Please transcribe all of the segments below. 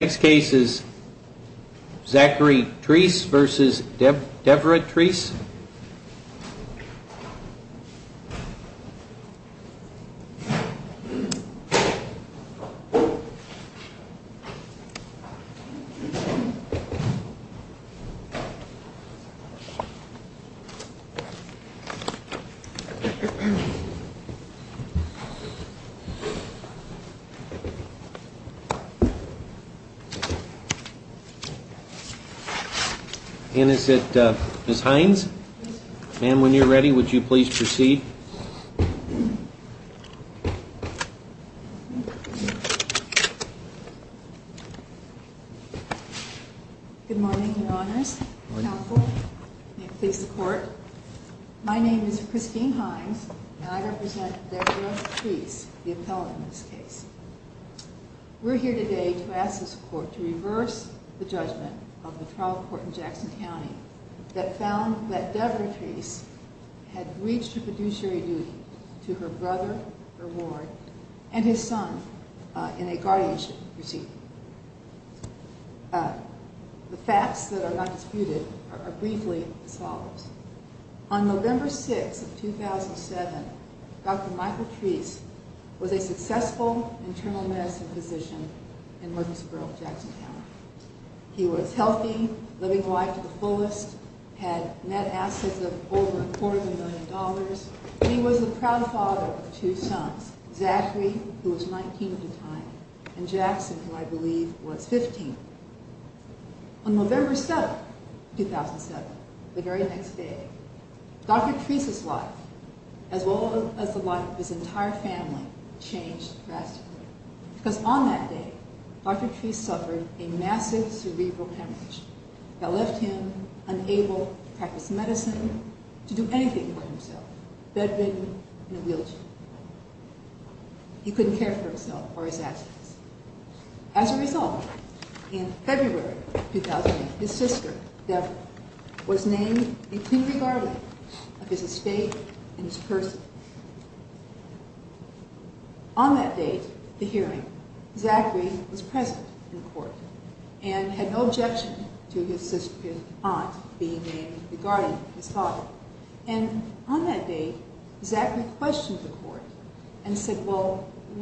Next case is Zachary Treece v. Debra Treece Christine Hines v. Debra Treece On November 6, 2007, Dr. Michael Treece was a successful internal medicine physician in Jackson County. He was healthy, living life to the fullest, had net assets of over a quarter of a million dollars, and he was a proud father of two sons, Zachary, who was 19 at the time, and Jackson, who I believe was 15. On November 7, 2007, the very next day, Dr. Treece's life, as well as the life of his entire family, changed drastically. Because on that day, Dr. Treece suffered a massive cerebral hemorrhage that left him unable to practice medicine, to do anything for himself, bedridden in a wheelchair. He couldn't care for himself or his assets. As a result, in February 2008, his sister, Debra, was named the cleanly guardian of his estate and his person. On that date, the hearing, Zachary was present in court, and had no objection to his aunt being named the guardian of his father. And on that date, Zachary questioned the court and said, well, I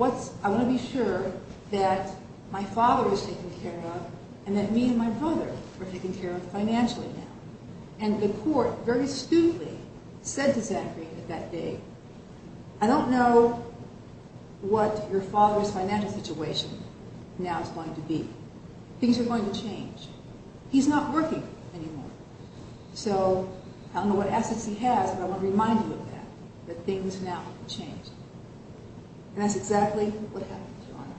want to be sure that my father is taken care of, and that me and my brother are taken care of financially now. And the court, very stupidly, said to Zachary on that day, I don't know what your father's financial situation now is going to be. Things are going to change. He's not working anymore, so I don't know what assets he has, but I want to remind you of that, that things now can change. And that's exactly what happened, Your Honor.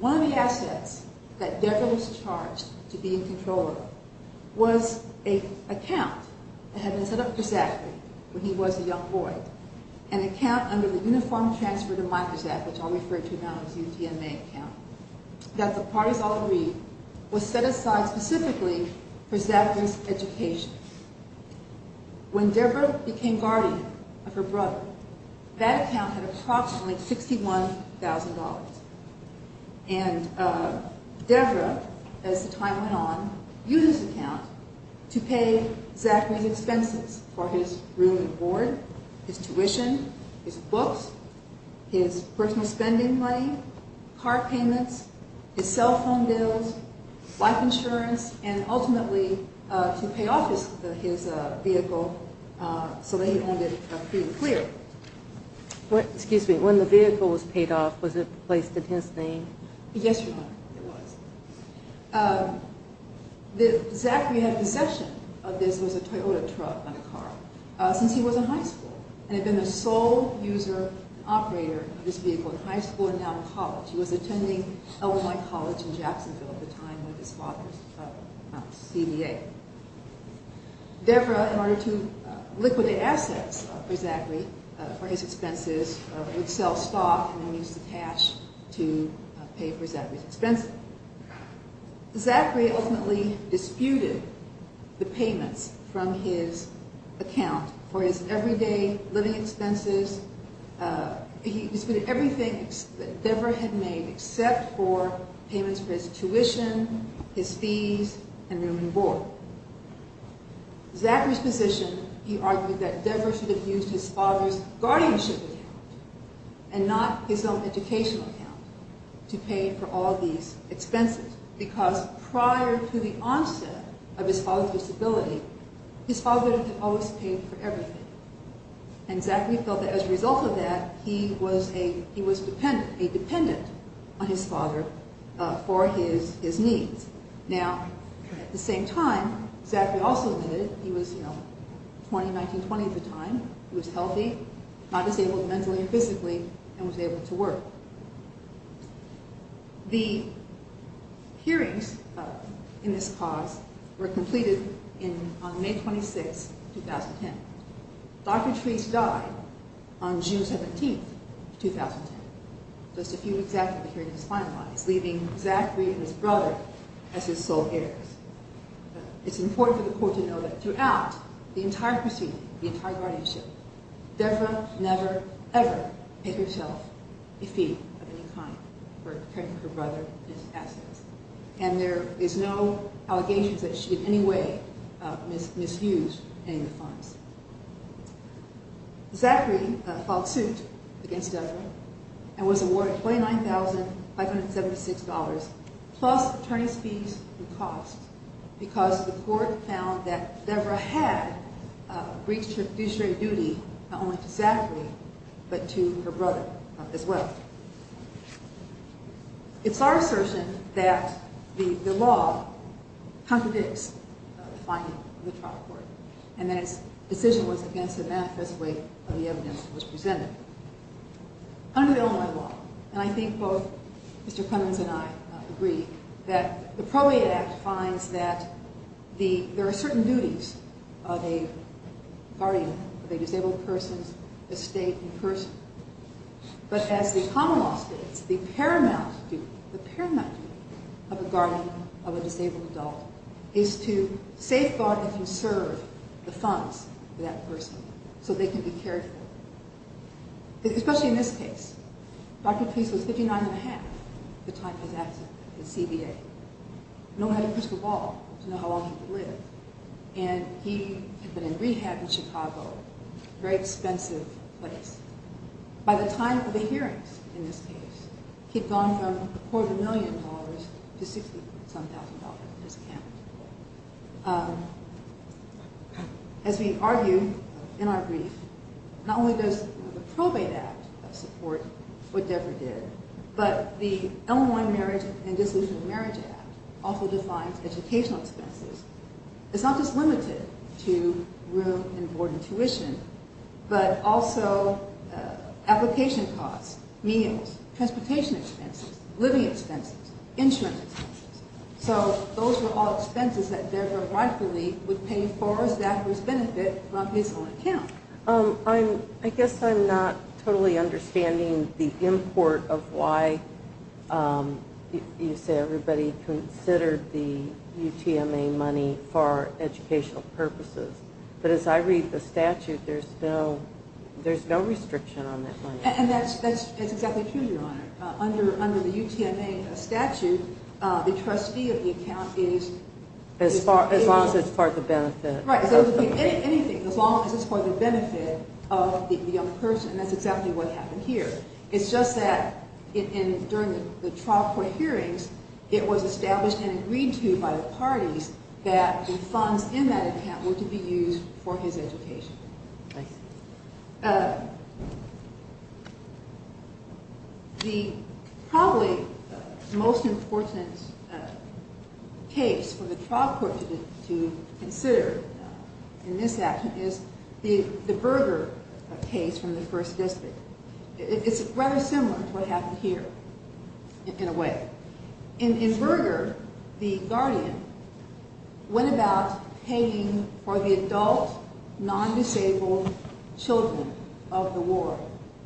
One of the assets that Debra was charged to be in control of was an account that had been set up for Zachary when he was a young boy, an account under the Uniform Transfer to Microsaf, which I'll refer to now as the UTMA account, that the parties all agreed was set aside specifically for Zachary's education. When Debra became guardian of her brother, that account had approximately $61,000. And Debra, as the time went on, used the account to pay Zachary's expenses for his room and board, his tuition, his books, his personal spending money, car payments, his cell phone bills, life insurance, and ultimately to pay off his vehicle so that he owned it free and clear. Excuse me, when the vehicle was paid off, was it placed in his name? Yes, Your Honor, it was. Zachary had possession of this, it was a Toyota truck and a car, since he was in high school and had been the sole user and operator of this vehicle in high school and now in college. He was attending Illinois College in Jacksonville at the time with his father's CDA. Debra, in order to liquidate assets for Zachary, for his expenses, would sell stock and then use the cash to pay for Zachary's expenses. Zachary ultimately disputed the payments from his account for his everyday living expenses. He disputed everything that Debra had made except for payments for his tuition, his fees, and room and board. Zachary's position, he argued that Debra should have used his father's guardianship account and not his own educational account to pay for all these expenses. Because prior to the onset of his father's disability, his father had always paid for everything. And Zachary felt that as a result of that, he was a dependent on his father for his needs. Now, at the same time, Zachary also admitted that he was 20, 1920 at the time, he was healthy, not disabled mentally or physically, and was able to work. The hearings in this cause were completed on May 26, 2010. Dr. Treece died on June 17, 2010. Just a few weeks after the hearing was finalized, leaving Zachary and his brother as his sole heirs. It's important for the court to know that throughout the entire proceeding, the entire guardianship, Debra never, ever paid herself a fee of any kind for her brother's assets. And there is no allegations that she in any way misused any of the funds. Zachary filed suit against Debra and was awarded $29,576 plus attorney's fees and costs because the court found that Debra had breached her judiciary duty, not only to Zachary, but to her brother as well. It's our assertion that the law contradicts the finding of the trial court and that its decision was against the manifest way of the evidence that was presented. Under Illinois law, and I think both Mr. Cummings and I agree, that the Probate Act finds that there are certain duties of a guardian of a disabled person's estate and person. But as the common law states, the paramount duty, the paramount duty of a guardian of a disabled adult is to safeguard and conserve the funds for that person so they can be cared for. Especially in this case. Dr. Peace was 59 and a half at the time of his accident at CBA. No one had a crystal ball to know how long he could live. And he had been in rehab in Chicago, a very expensive place. By the time of the hearings in this case, he'd gone from a quarter of a million dollars to $60,000 discount. As we argue in our brief, not only does the Probate Act support what Debra did, but the Illinois Marriage and Dissolution of Marriage Act also defines educational expenses. It's not just limited to room and board and tuition, but also application costs, meals, transportation expenses, living expenses, insurance expenses. So those are all expenses that Debra rightfully would pay for as that was considered the UTMA money for educational purposes. But as I read the statute, there's no restriction on that money. And that's exactly true, Your Honor. Under the UTMA statute, the trustee of the account is... As long as it's for the benefit. Right. Anything. As long as it's for the benefit of the young person. That's exactly what happened here. It's just that during the trial court hearings, it was established and agreed to by the parties that the funds in that account were to be used for his education. The probably most important case for the trial court to consider in this action is the Berger case from the First District. It's rather similar to what happened here, in a way. In Berger, the guardian went about paying for the adult, non-disabled children of the ward,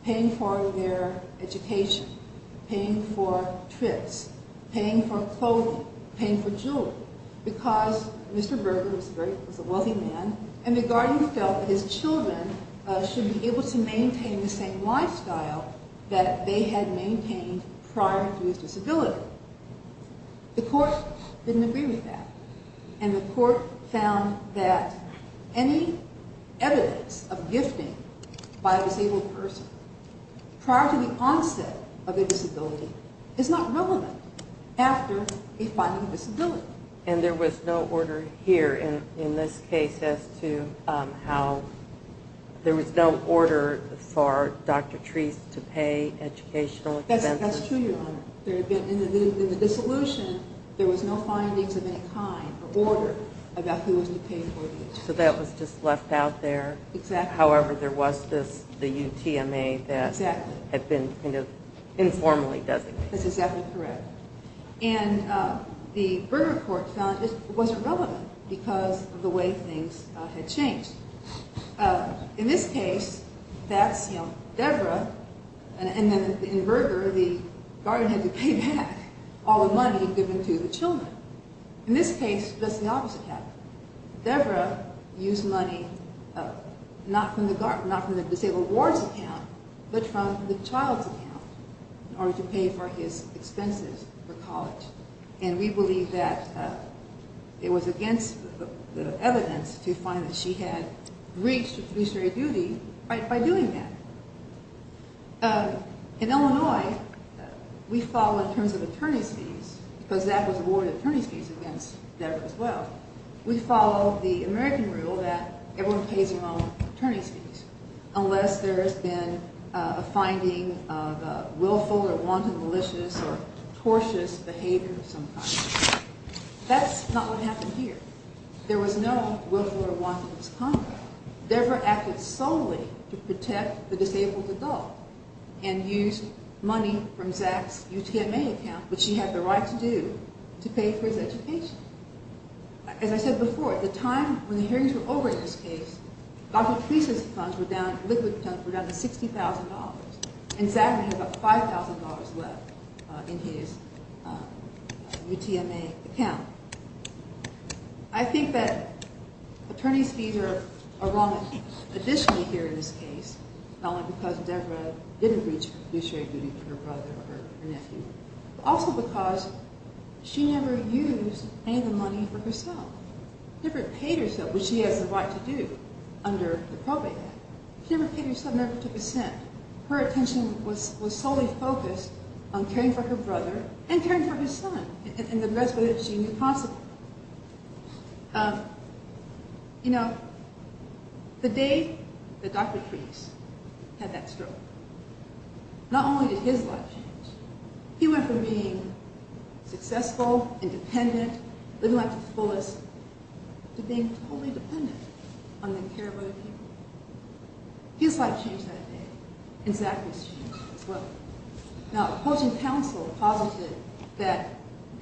paying for their education, paying for trips, paying for clothing, paying for jewelry, because Mr. Berger was a wealthy man, and the guardian felt that his children should be able to maintain the same lifestyle that they had maintained prior to his disability. The court didn't agree with that, and the court found that any evidence of gifting by a disabled person prior to the onset of a disability is not relevant after a finding of disability. And there was no order here in this case as to how, there was no order for Dr. Treece to pay educational expenses? That's true, Your Honor. In the dissolution, there was no findings of any kind or order about who was to pay for the education. So that was just left out there? Exactly. However, there was the UTMA that had been informally designated. That's exactly correct. And the Berger court found it was irrelevant because of the way things had changed. In this case, that's Debra, and then in Berger, the guardian had to pay back all the money given to the children. In this case, that's the opposite. Debra used money not from the disabled ward's account, but from the child's account, in order to pay for his expenses for college. And we believe that it was against the evidence to find that she had reached fiduciary duty by doing that. In Illinois, we follow in terms of attorney's fees, because that was awarded attorney's fees against Debra as well. We follow the American rule that everyone pays their own attorney's fees, unless there has been a finding of willful or wanton malicious or tortious behavior of some kind. That's not what happened here. There was no willful or wanton misconduct. Debra acted solely to protect the disabled adult and used money from Zach's UTMA account, which she had the right to do, to pay for his education. As I said before, at the time when the hearings were over in this case, Godfrey Police's funds, liquid funds, were down to $60,000, and Zach had about $5,000 left in his UTMA account. I think that attorney's fees are wrong additionally here in this case, not only because Debra didn't reach fiduciary duty for her brother or her nephew, but also because she never used any of the money for herself. Debra paid herself, which she has the right to do, under the Probate Act. She never paid herself, never took a cent. Her attention was solely focused on caring for her brother and caring for her son and the rest of what she knew possibly. The day that Dr. Treece had that stroke, not only did his life change, he went from being successful, independent, living life to the fullest, to being totally dependent on the care of other people. His life changed that day, and Zach's life changed as well. Now, opposing counsel posited that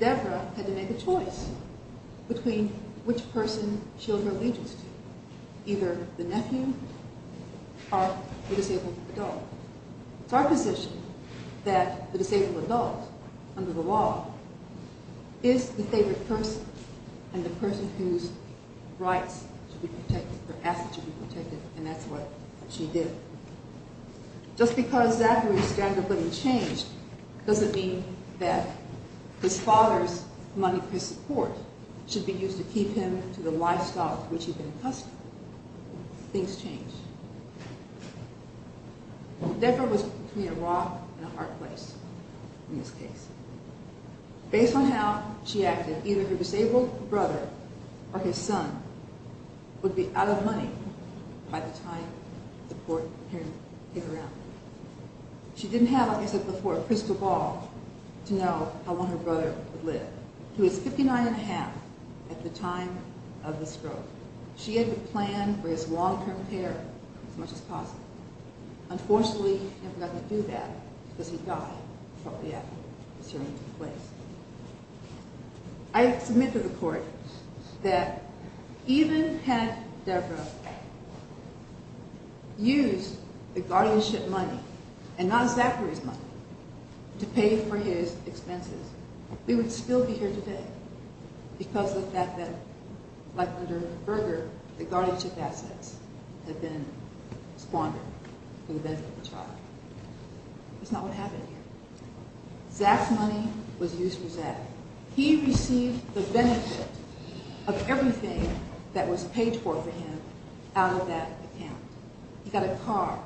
Debra had to make a choice between which person she owed her allegiance to, either the nephew or the disabled adult. It's our position that the disabled adult, under the law, is the favored person and the person whose rights or assets should be protected, and that's what she did. Just because Zachary's standard of living changed doesn't mean that his father's money for his support should be used to keep him to the lifestyle to which he'd been accustomed. Things change. Debra was between a rock and a hard place in this case. Based on how she acted, either her disabled brother or his son would be out of money by the time the court heard him kick her out. She didn't have, like I said before, a crystal ball to know how long her brother would live. He was 59 1⁄2 at the time of the stroke. She had to plan for his long-term care as much as possible. Unfortunately, he had nothing to do with that because he died probably after the stroke took place. I submit to the court that even had Debra used the guardianship money, and not Zachary's money, to pay for his expenses, we would still be here today because of the fact that, like under Berger, the guardianship assets had been squandered for the benefit of the child. That's not what happened here. Zach's money was used for Zach. He received the benefit of everything that was paid for for him out of that account. He got a car.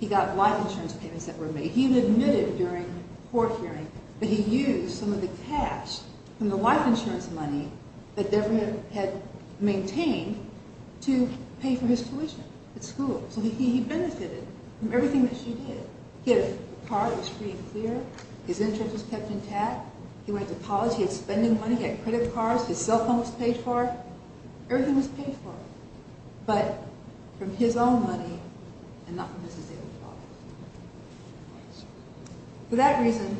He got life insurance payments that were made. He admitted during the court hearing that he used some of the cash from the life insurance money that Debra had maintained to pay for his tuition at school. So he benefited from everything that she did. He had a car. It was free and clear. His insurance was kept intact. He went to college. He had spending money. He had credit cards. His cell phone was paid for. Everything was paid for, but from his own money and not from his disabled father. For that reason,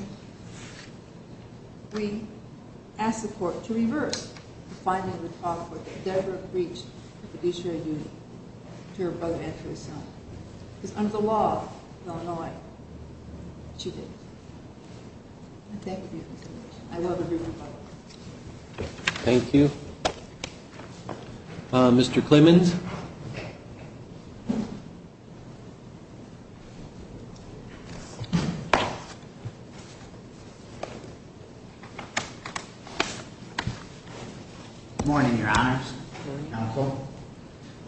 we asked the court to reverse the finding in the trial court that Debra breached her fiduciary duty to her brother and to his son. Because under the law in Illinois, she didn't. I thank you for your consideration. I love every one of you. Thank you. Mr. Clemons? Morning, Your Honors.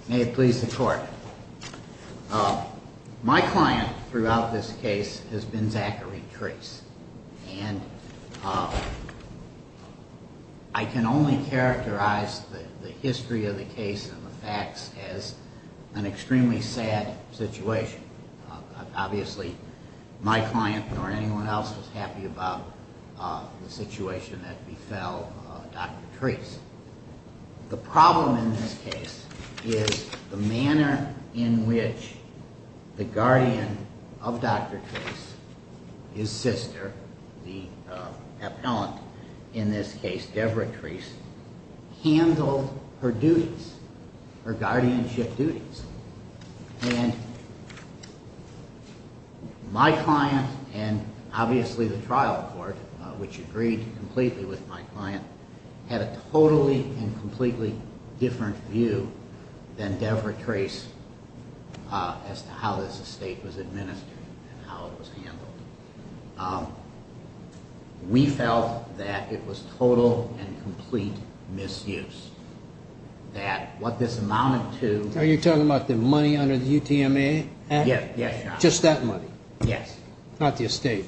May it please the court. My client throughout this case has been Zachary Trace. And I can only characterize the history of the case and the facts as an extremely sad situation. Obviously, my client nor anyone else was happy about the situation that befell Dr. Trace. The problem in this case is the manner in which the guardian of Dr. Trace, his sister, the appellant in this case, Debra Trace, handled her duties, her guardianship duties. And my client and obviously the trial court, which agreed completely with my client, had a totally and completely different view than Debra Trace as to how this estate was administered and how it was handled. We felt that it was total and complete misuse. Are you talking about the money under the UTMA Act? Yes, Your Honor. Just that money? Yes. Not the estate?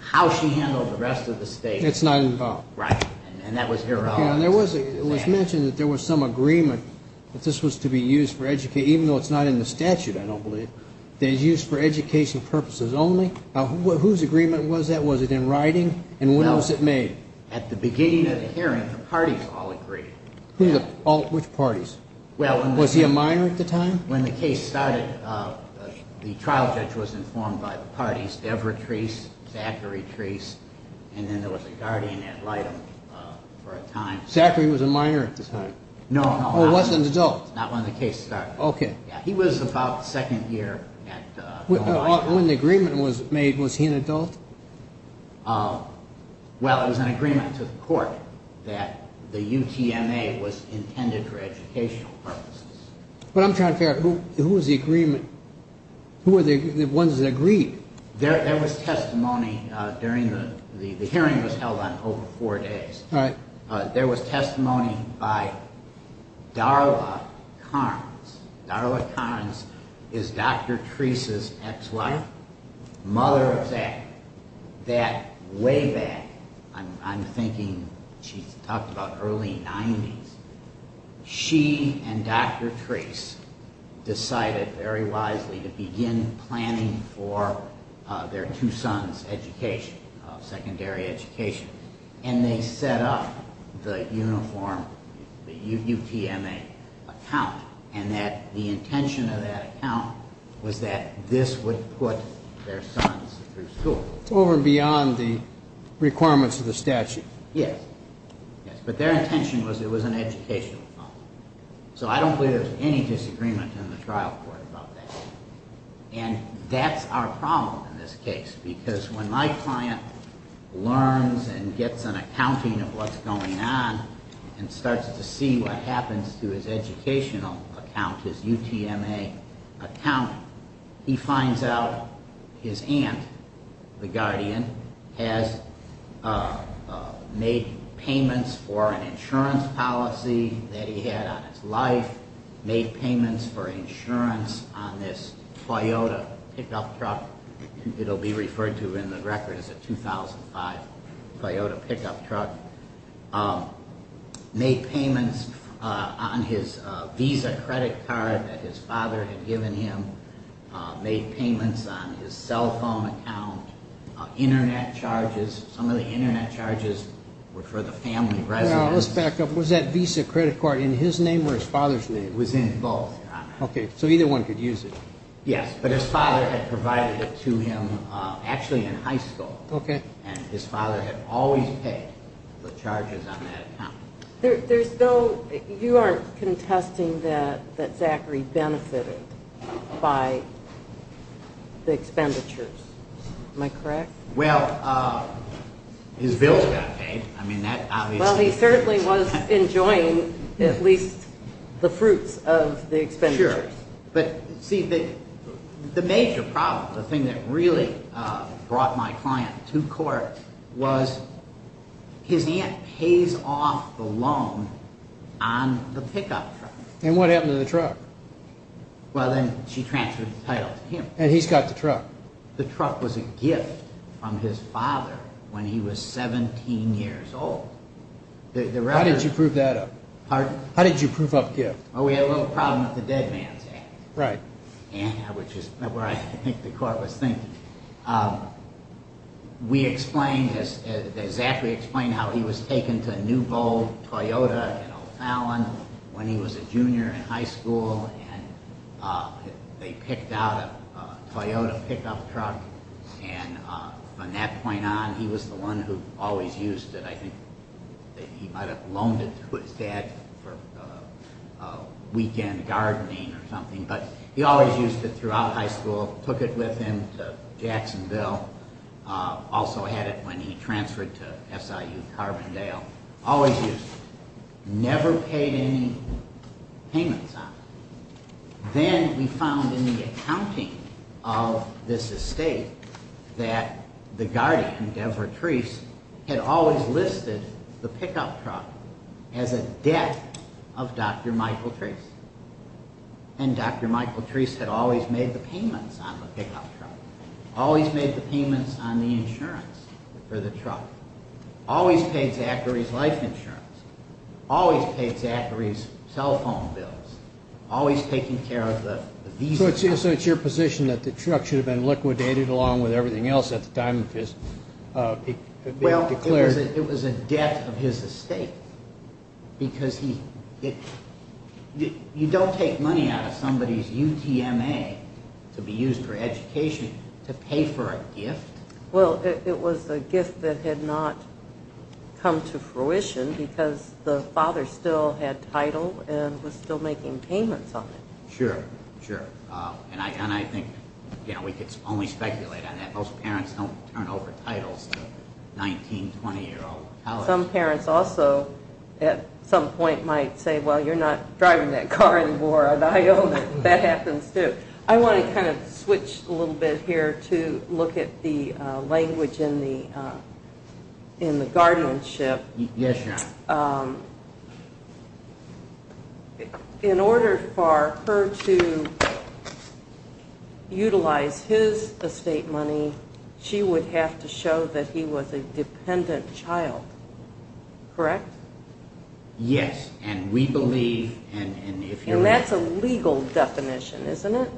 How she handled the rest of the estate. It's not involved. Right. And that was her law. It was mentioned that there was some agreement that this was to be used for education, even though it's not in the statute, I don't believe. It's used for education purposes only. Whose agreement was that? Was it in writing? And when was it made? At the beginning of the hearing, the parties all agreed. Which parties? Was he a minor at the time? When the case started, the trial judge was informed by the parties, Debra Trace, Zachary Trace, and then there was a guardian at Lytton for a time. Zachary was a minor at the time? No. Or was an adult? Not when the case started. Okay. He was about second year at Lytton. When the agreement was made, was he an adult? Well, it was an agreement to the court that the UTMA was intended for educational purposes. But I'm trying to figure out, who was the agreement? Who were the ones that agreed? There was testimony during the hearing that was held on over four days. All right. There was testimony by Darla Carnes. Darla Carnes is Dr. Trace's ex-wife, mother of Zach. That way back, I'm thinking she talked about early 90s, she and Dr. Trace decided very wisely to begin planning for their two sons' education, secondary education. And they set up the uniform, the UTMA account, and that the intention of that account was that this would put their sons through school. Over and beyond the requirements of the statute. Yes. Yes. But their intention was it was an educational fund. So I don't believe there's any disagreement in the trial court about that. And that's our problem in this case. Because when my client learns and gets an accounting of what's going on and starts to see what happens to his educational account, his UTMA account, he finds out his aunt, the guardian, has made payments for an insurance policy that he had on his life, made payments for insurance on this Toyota pickup truck. It'll be referred to in the record as a 2005 Toyota pickup truck. Made payments on his Visa credit card that his father had given him. Made payments on his cell phone account. Internet charges. Some of the internet charges were for the family residence. Now, let's back up. Was that Visa credit card in his name or his father's name? It was in both, Your Honor. Okay. So either one could use it. Yes. But his father had provided it to him actually in high school. Okay. And his father had always paid the charges on that account. There's no – you aren't contesting that Zachary benefited by the expenditures. Am I correct? Well, his bills got paid. I mean, that obviously – Well, he certainly was enjoying at least the fruits of the expenditures. Sure. But, see, the major problem, the thing that really brought my client to court, was his aunt pays off the loan on the pickup truck. And what happened to the truck? Well, then she transferred the title to him. And he's got the truck. The truck was a gift from his father when he was 17 years old. How did you prove that up? Pardon? How did you prove up gift? Well, we had a little problem with the Dead Man's Act. Right. Yeah, which is where I think the court was thinking. We explained, as Zachary explained, how he was taken to New Bowl, Toyota, and O'Fallon when he was a junior in high school, and they picked out a Toyota pickup truck. And from that point on, he was the one who always used it. I think that he might have loaned it to his dad for weekend gardening or something. But he always used it throughout high school, took it with him to Jacksonville. Also had it when he transferred to SIU Carbondale. Always used it. Never paid any payments on it. Then we found in the accounting of this estate that the guardian, Jack and Deborah Treece, had always listed the pickup truck as a debt of Dr. Michael Treece. And Dr. Michael Treece had always made the payments on the pickup truck. Always made the payments on the insurance for the truck. Always paid Zachary's life insurance. Always paid Zachary's cell phone bills. Always taking care of the visa. So it's your position that the truck should have been liquidated along with everything else at the time of his declaration? Well, it was a debt of his estate. Because you don't take money out of somebody's UTMA to be used for education to pay for a gift. Well, it was a gift that had not come to fruition because the father still had title and was still making payments on it. Sure, sure. And I think we can only speculate on that. Most parents don't turn over titles to 19, 20-year-old college kids. Some parents also at some point might say, well, you're not driving that car anymore. I know that happens, too. I want to kind of switch a little bit here to look at the language in the guardianship. Yes, Your Honor. In order for her to utilize his estate money, she would have to show that he was a dependent child, correct? Yes, and we believe and if you're right. And that's a legal definition, isn't it?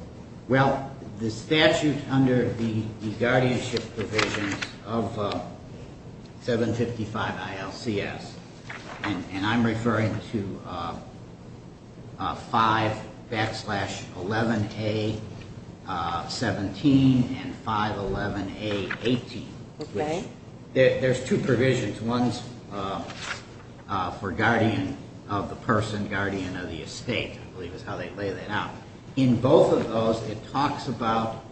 Well, the statute under the guardianship provisions of 755 ILCS, and I'm referring to 5-11A-17 and 5-11A-18. Okay. There's two provisions. One's for guardian of the person, guardian of the estate, I believe is how they lay that out. In both of those, it talks about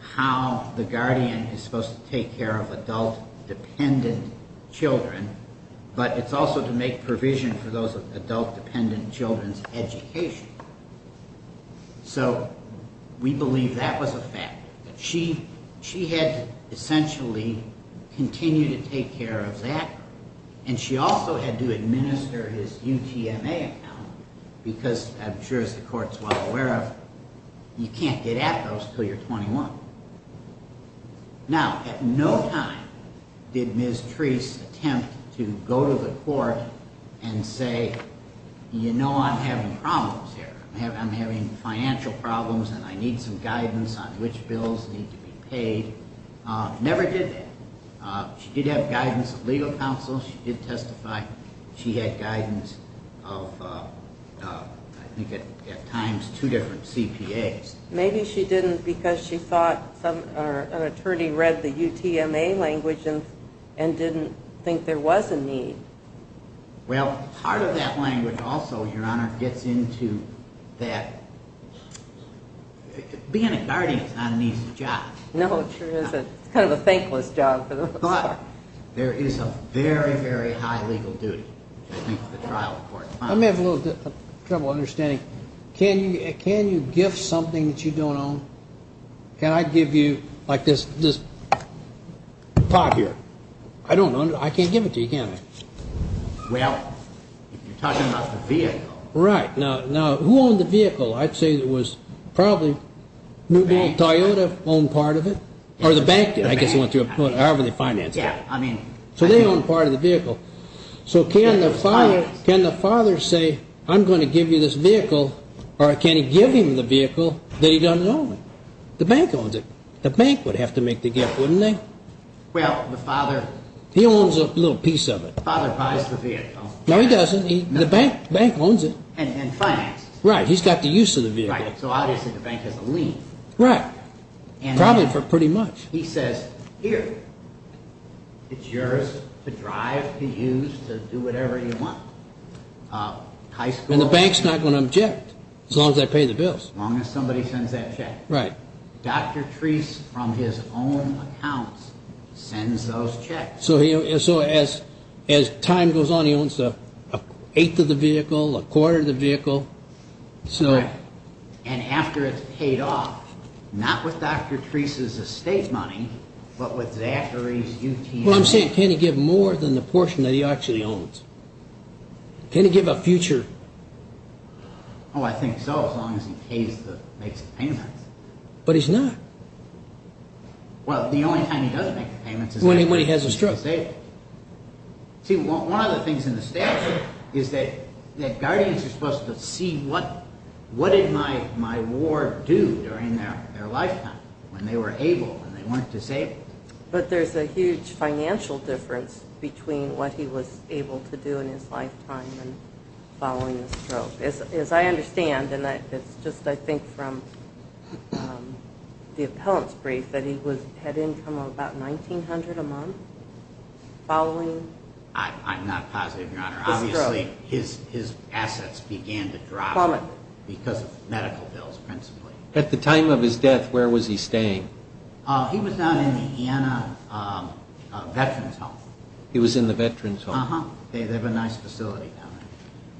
how the guardian is supposed to take care of adult-dependent children, but it's also to make provision for those adult-dependent children's education. So we believe that was a fact. She had to essentially continue to take care of that, and she also had to administer his UTMA account, because I'm sure as the Court's well aware of, you can't get at those until you're 21. Now, at no time did Ms. Treece attempt to go to the Court and say, you know, I'm having problems here. I'm having financial problems and I need some guidance on which bills need to be paid. Never did that. She did have guidance of legal counsel. She did testify. She had guidance of, I think at times, two different CPAs. Maybe she didn't because she thought an attorney read the UTMA language and didn't think there was a need. Well, part of that language also, Your Honor, gets into that being a guardian is not an easy job. No, it sure isn't. It's kind of a thankless job for the most part. There is a very, very high legal duty that meets the trial in court. I'm having a little trouble understanding. Can you gift something that you don't own? Can I give you like this pot here? I don't know. I can't give it to you, can I? Well, you're talking about the vehicle. Right. Now, who owned the vehicle? I'd say it was probably Toyota owned part of it, or the bank did. So they owned part of the vehicle. So can the father say, I'm going to give you this vehicle, or can he give him the vehicle that he doesn't own? The bank owns it. The bank would have to make the gift, wouldn't they? Well, the father. He owns a little piece of it. The father buys the vehicle. No, he doesn't. The bank owns it. And finances it. Right. He's got the use of the vehicle. Right. So obviously the bank has a lien. Right. Probably for pretty much. He says, here, it's yours to drive, to use, to do whatever you want. High school. And the bank's not going to object, as long as they pay the bills. As long as somebody sends that check. Right. Dr. Treese, from his own accounts, sends those checks. So as time goes on, he owns an eighth of the vehicle, a quarter of the vehicle. Right. And after it's paid off, not with Dr. Treese's estate money, but with Zachary's UTM money. Well, I'm saying, can he give more than the portion that he actually owns? Can he give a future? Oh, I think so, as long as he makes the payments. But he's not. Well, the only time he does make the payments is when he has a stroke. See, one of the things in the statute is that guardians are supposed to see what did my ward do during their lifetime, when they were able, when they weren't disabled. But there's a huge financial difference between what he was able to do in his lifetime and following the stroke. As I understand, and it's just, I think, from the appellant's brief, that he had income of about $1,900 a month following the stroke. I'm not positive, Your Honor. Obviously, his assets began to drop because of medical bills, principally. At the time of his death, where was he staying? He was down in the IANA Veterans Home. He was in the Veterans Home? Uh-huh. They have a nice facility down there.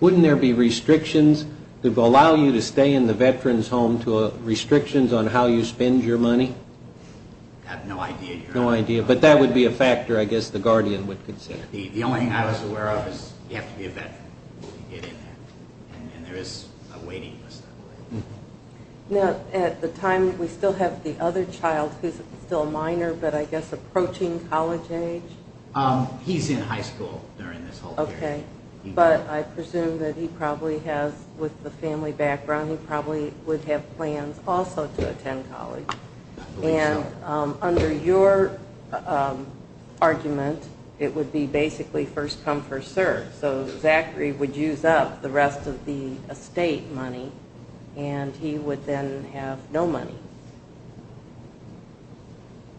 Wouldn't there be restrictions that would allow you to stay in the Veterans Home to restrictions on how you spend your money? I have no idea, Your Honor. No idea. But that would be a factor, I guess, the guardian would consider. The only thing I was aware of is you have to be a veteran to get in there. And there is a waiting list that way. Now, at the time, we still have the other child, who's still a minor, but I guess approaching college age? He's in high school during this whole period. Okay. But I presume that he probably has, with the family background, he probably would have plans also to attend college. I believe so. And under your argument, it would be basically first come, first served. So Zachary would use up the rest of the estate money, and he would then have no money.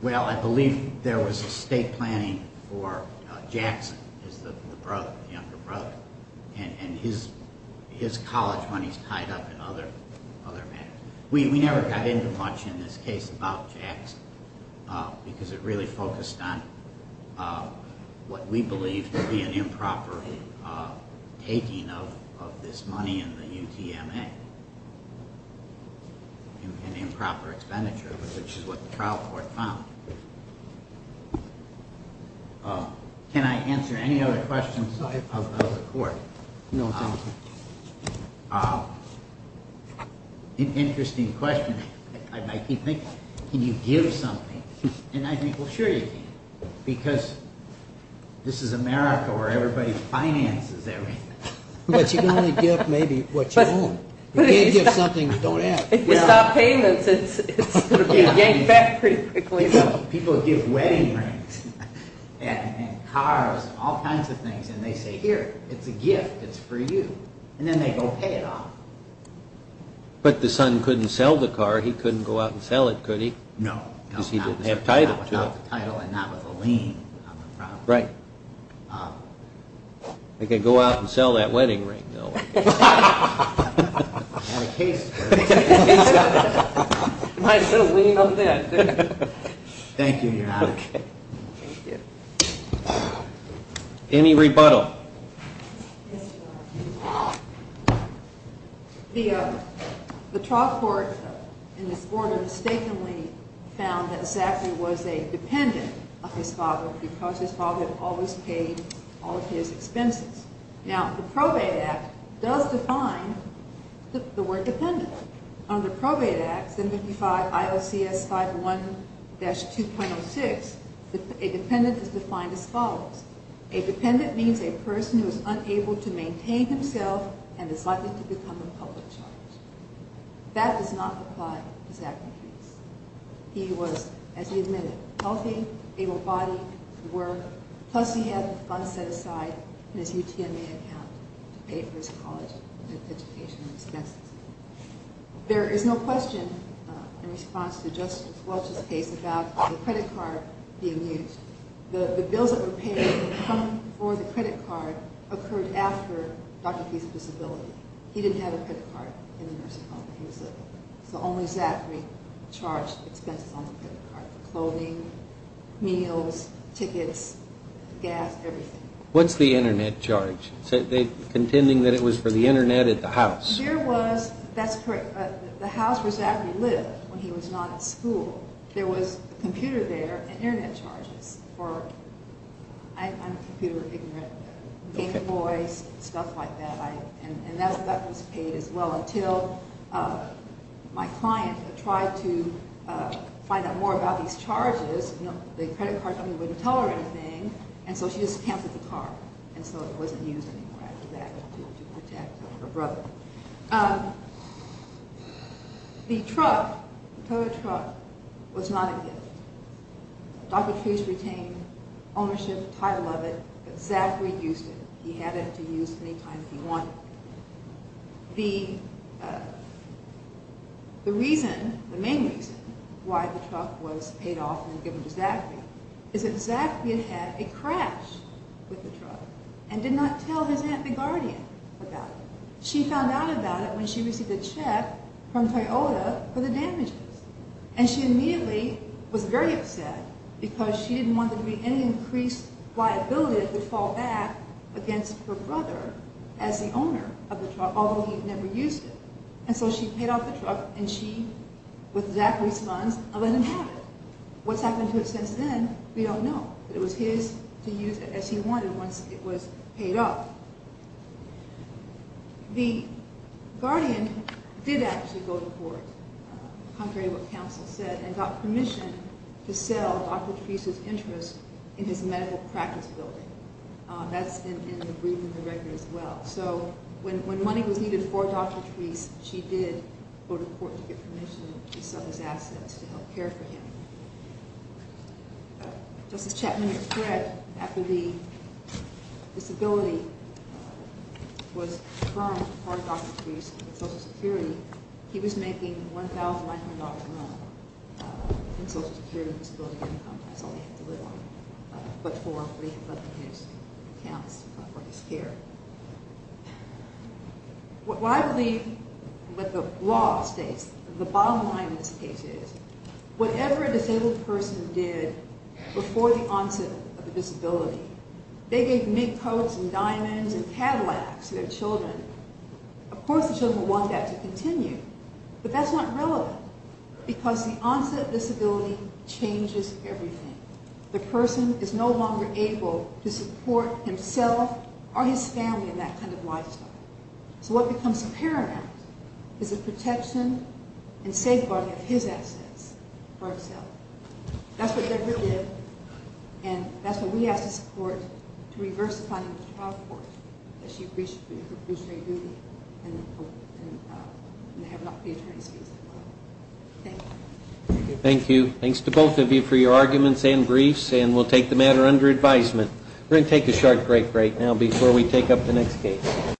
Well, I believe there was estate planning for Jackson, the younger brother. And his college money is tied up in other matters. We never got into much in this case about Jackson, because it really focused on what we believe to be an improper taking of this money in the UTMA. An improper expenditure, which is what the trial court found. Can I answer any other questions of the court? No, thank you. An interesting question. I keep thinking, can you give something? And I think, well, sure you can, because this is America where everybody finances everything. But you can only give maybe what you own. If you can't give something, don't ask. If you stop payments, it's going to be yanked back pretty quickly. People give wedding rings and cars and all kinds of things, and they say, here, it's a gift. It's for you. And then they go pay it off. But the son couldn't sell the car. He couldn't go out and sell it, could he? No. Because he didn't have title. Without the title and not with a lien on the property. Right. They could go out and sell that wedding ring, though. And a case. Might as well lien on that. Thank you, Your Honor. Okay. Thank you. Any rebuttal? Yes, Your Honor. The trial court in this order mistakenly found that Zachary was a dependent of his father because his father always paid all of his expenses. Now, the Probate Act does define the word dependent. Under Probate Act 755 IOCS 501-2.06, a dependent is defined as follows. A dependent means a person who is unable to maintain himself and is likely to become a public charge. That does not apply to Zachary Case. He was, as he admitted, healthy, able-bodied, could work, plus he had the funds set aside in his UTMA account to pay for his college education and his classes. There is no question in response to Justice Welch's case about the credit card being used. The bills that were paid for the credit card occurred after Dr. Fee's disability. He didn't have a credit card in the nursing home where he was living. So only Zachary charged expenses on the credit card. Clothing, meals, tickets, gas, everything. What's the internet charge? Are they contending that it was for the internet at the house? There was, that's correct, the house where Zachary lived when he was not at school, there was a computer there and internet charges for, I'm a computer ignorant, gaming boys, stuff like that. And that was paid as well until my client tried to find out more about these charges. The credit card company wouldn't tell her anything, and so she just canceled the card. And so it wasn't used anymore after that to protect her brother. The truck, the Toyota truck, was not a gift. Dr. Fee's retained ownership, title of it, but Zachary used it. He had it to use any time he wanted. The reason, the main reason, why the truck was paid off and given to Zachary is that Zachary had a crash with the truck and did not tell his aunt, the guardian, about it. She found out about it when she received a check from Toyota for the damages. And she immediately was very upset because she didn't want there to be any increased liability that would fall back against her brother as the owner of the truck, although he never used it. And so she paid off the truck and she, with Zachary's funds, let him have it. What's happened to it since then, we don't know. But it was his to use it as he wanted once it was paid off. The guardian did actually go to court, contrary to what counsel said, and got permission to sell Dr. Fee's interest in his medical practice building. That's in the brief and the record as well. So when money was needed for Dr. Fee's, she did go to court to get permission to sell his assets to help care for him. Justice Chapman has said after the disability was confirmed for Dr. Fee's social security, he was making $1,900 a month in social security disability income. That's all he had to live on but for his accounts for his care. What I believe, what the law states, the bottom line of this case is, whatever a disabled person did before the onset of the disability, they gave mint coats and diamonds and Cadillacs to their children. Of course the children would want that to continue, but that's not relevant because the onset of disability changes everything. The person is no longer able to support himself or his family in that kind of lifestyle. So what becomes paramount is the protection and safeguarding of his assets for himself. That's what Deborah did, and that's what we ask the court to reverse the findings of the trial court that she reached for the perpetrator's duty and have Dr. Fee's attorney speak as well. Thank you. Thank you. Thanks to both of you for your arguments and briefs, and we'll take the matter under advisement. We're going to take a short break right now before we take up the next case.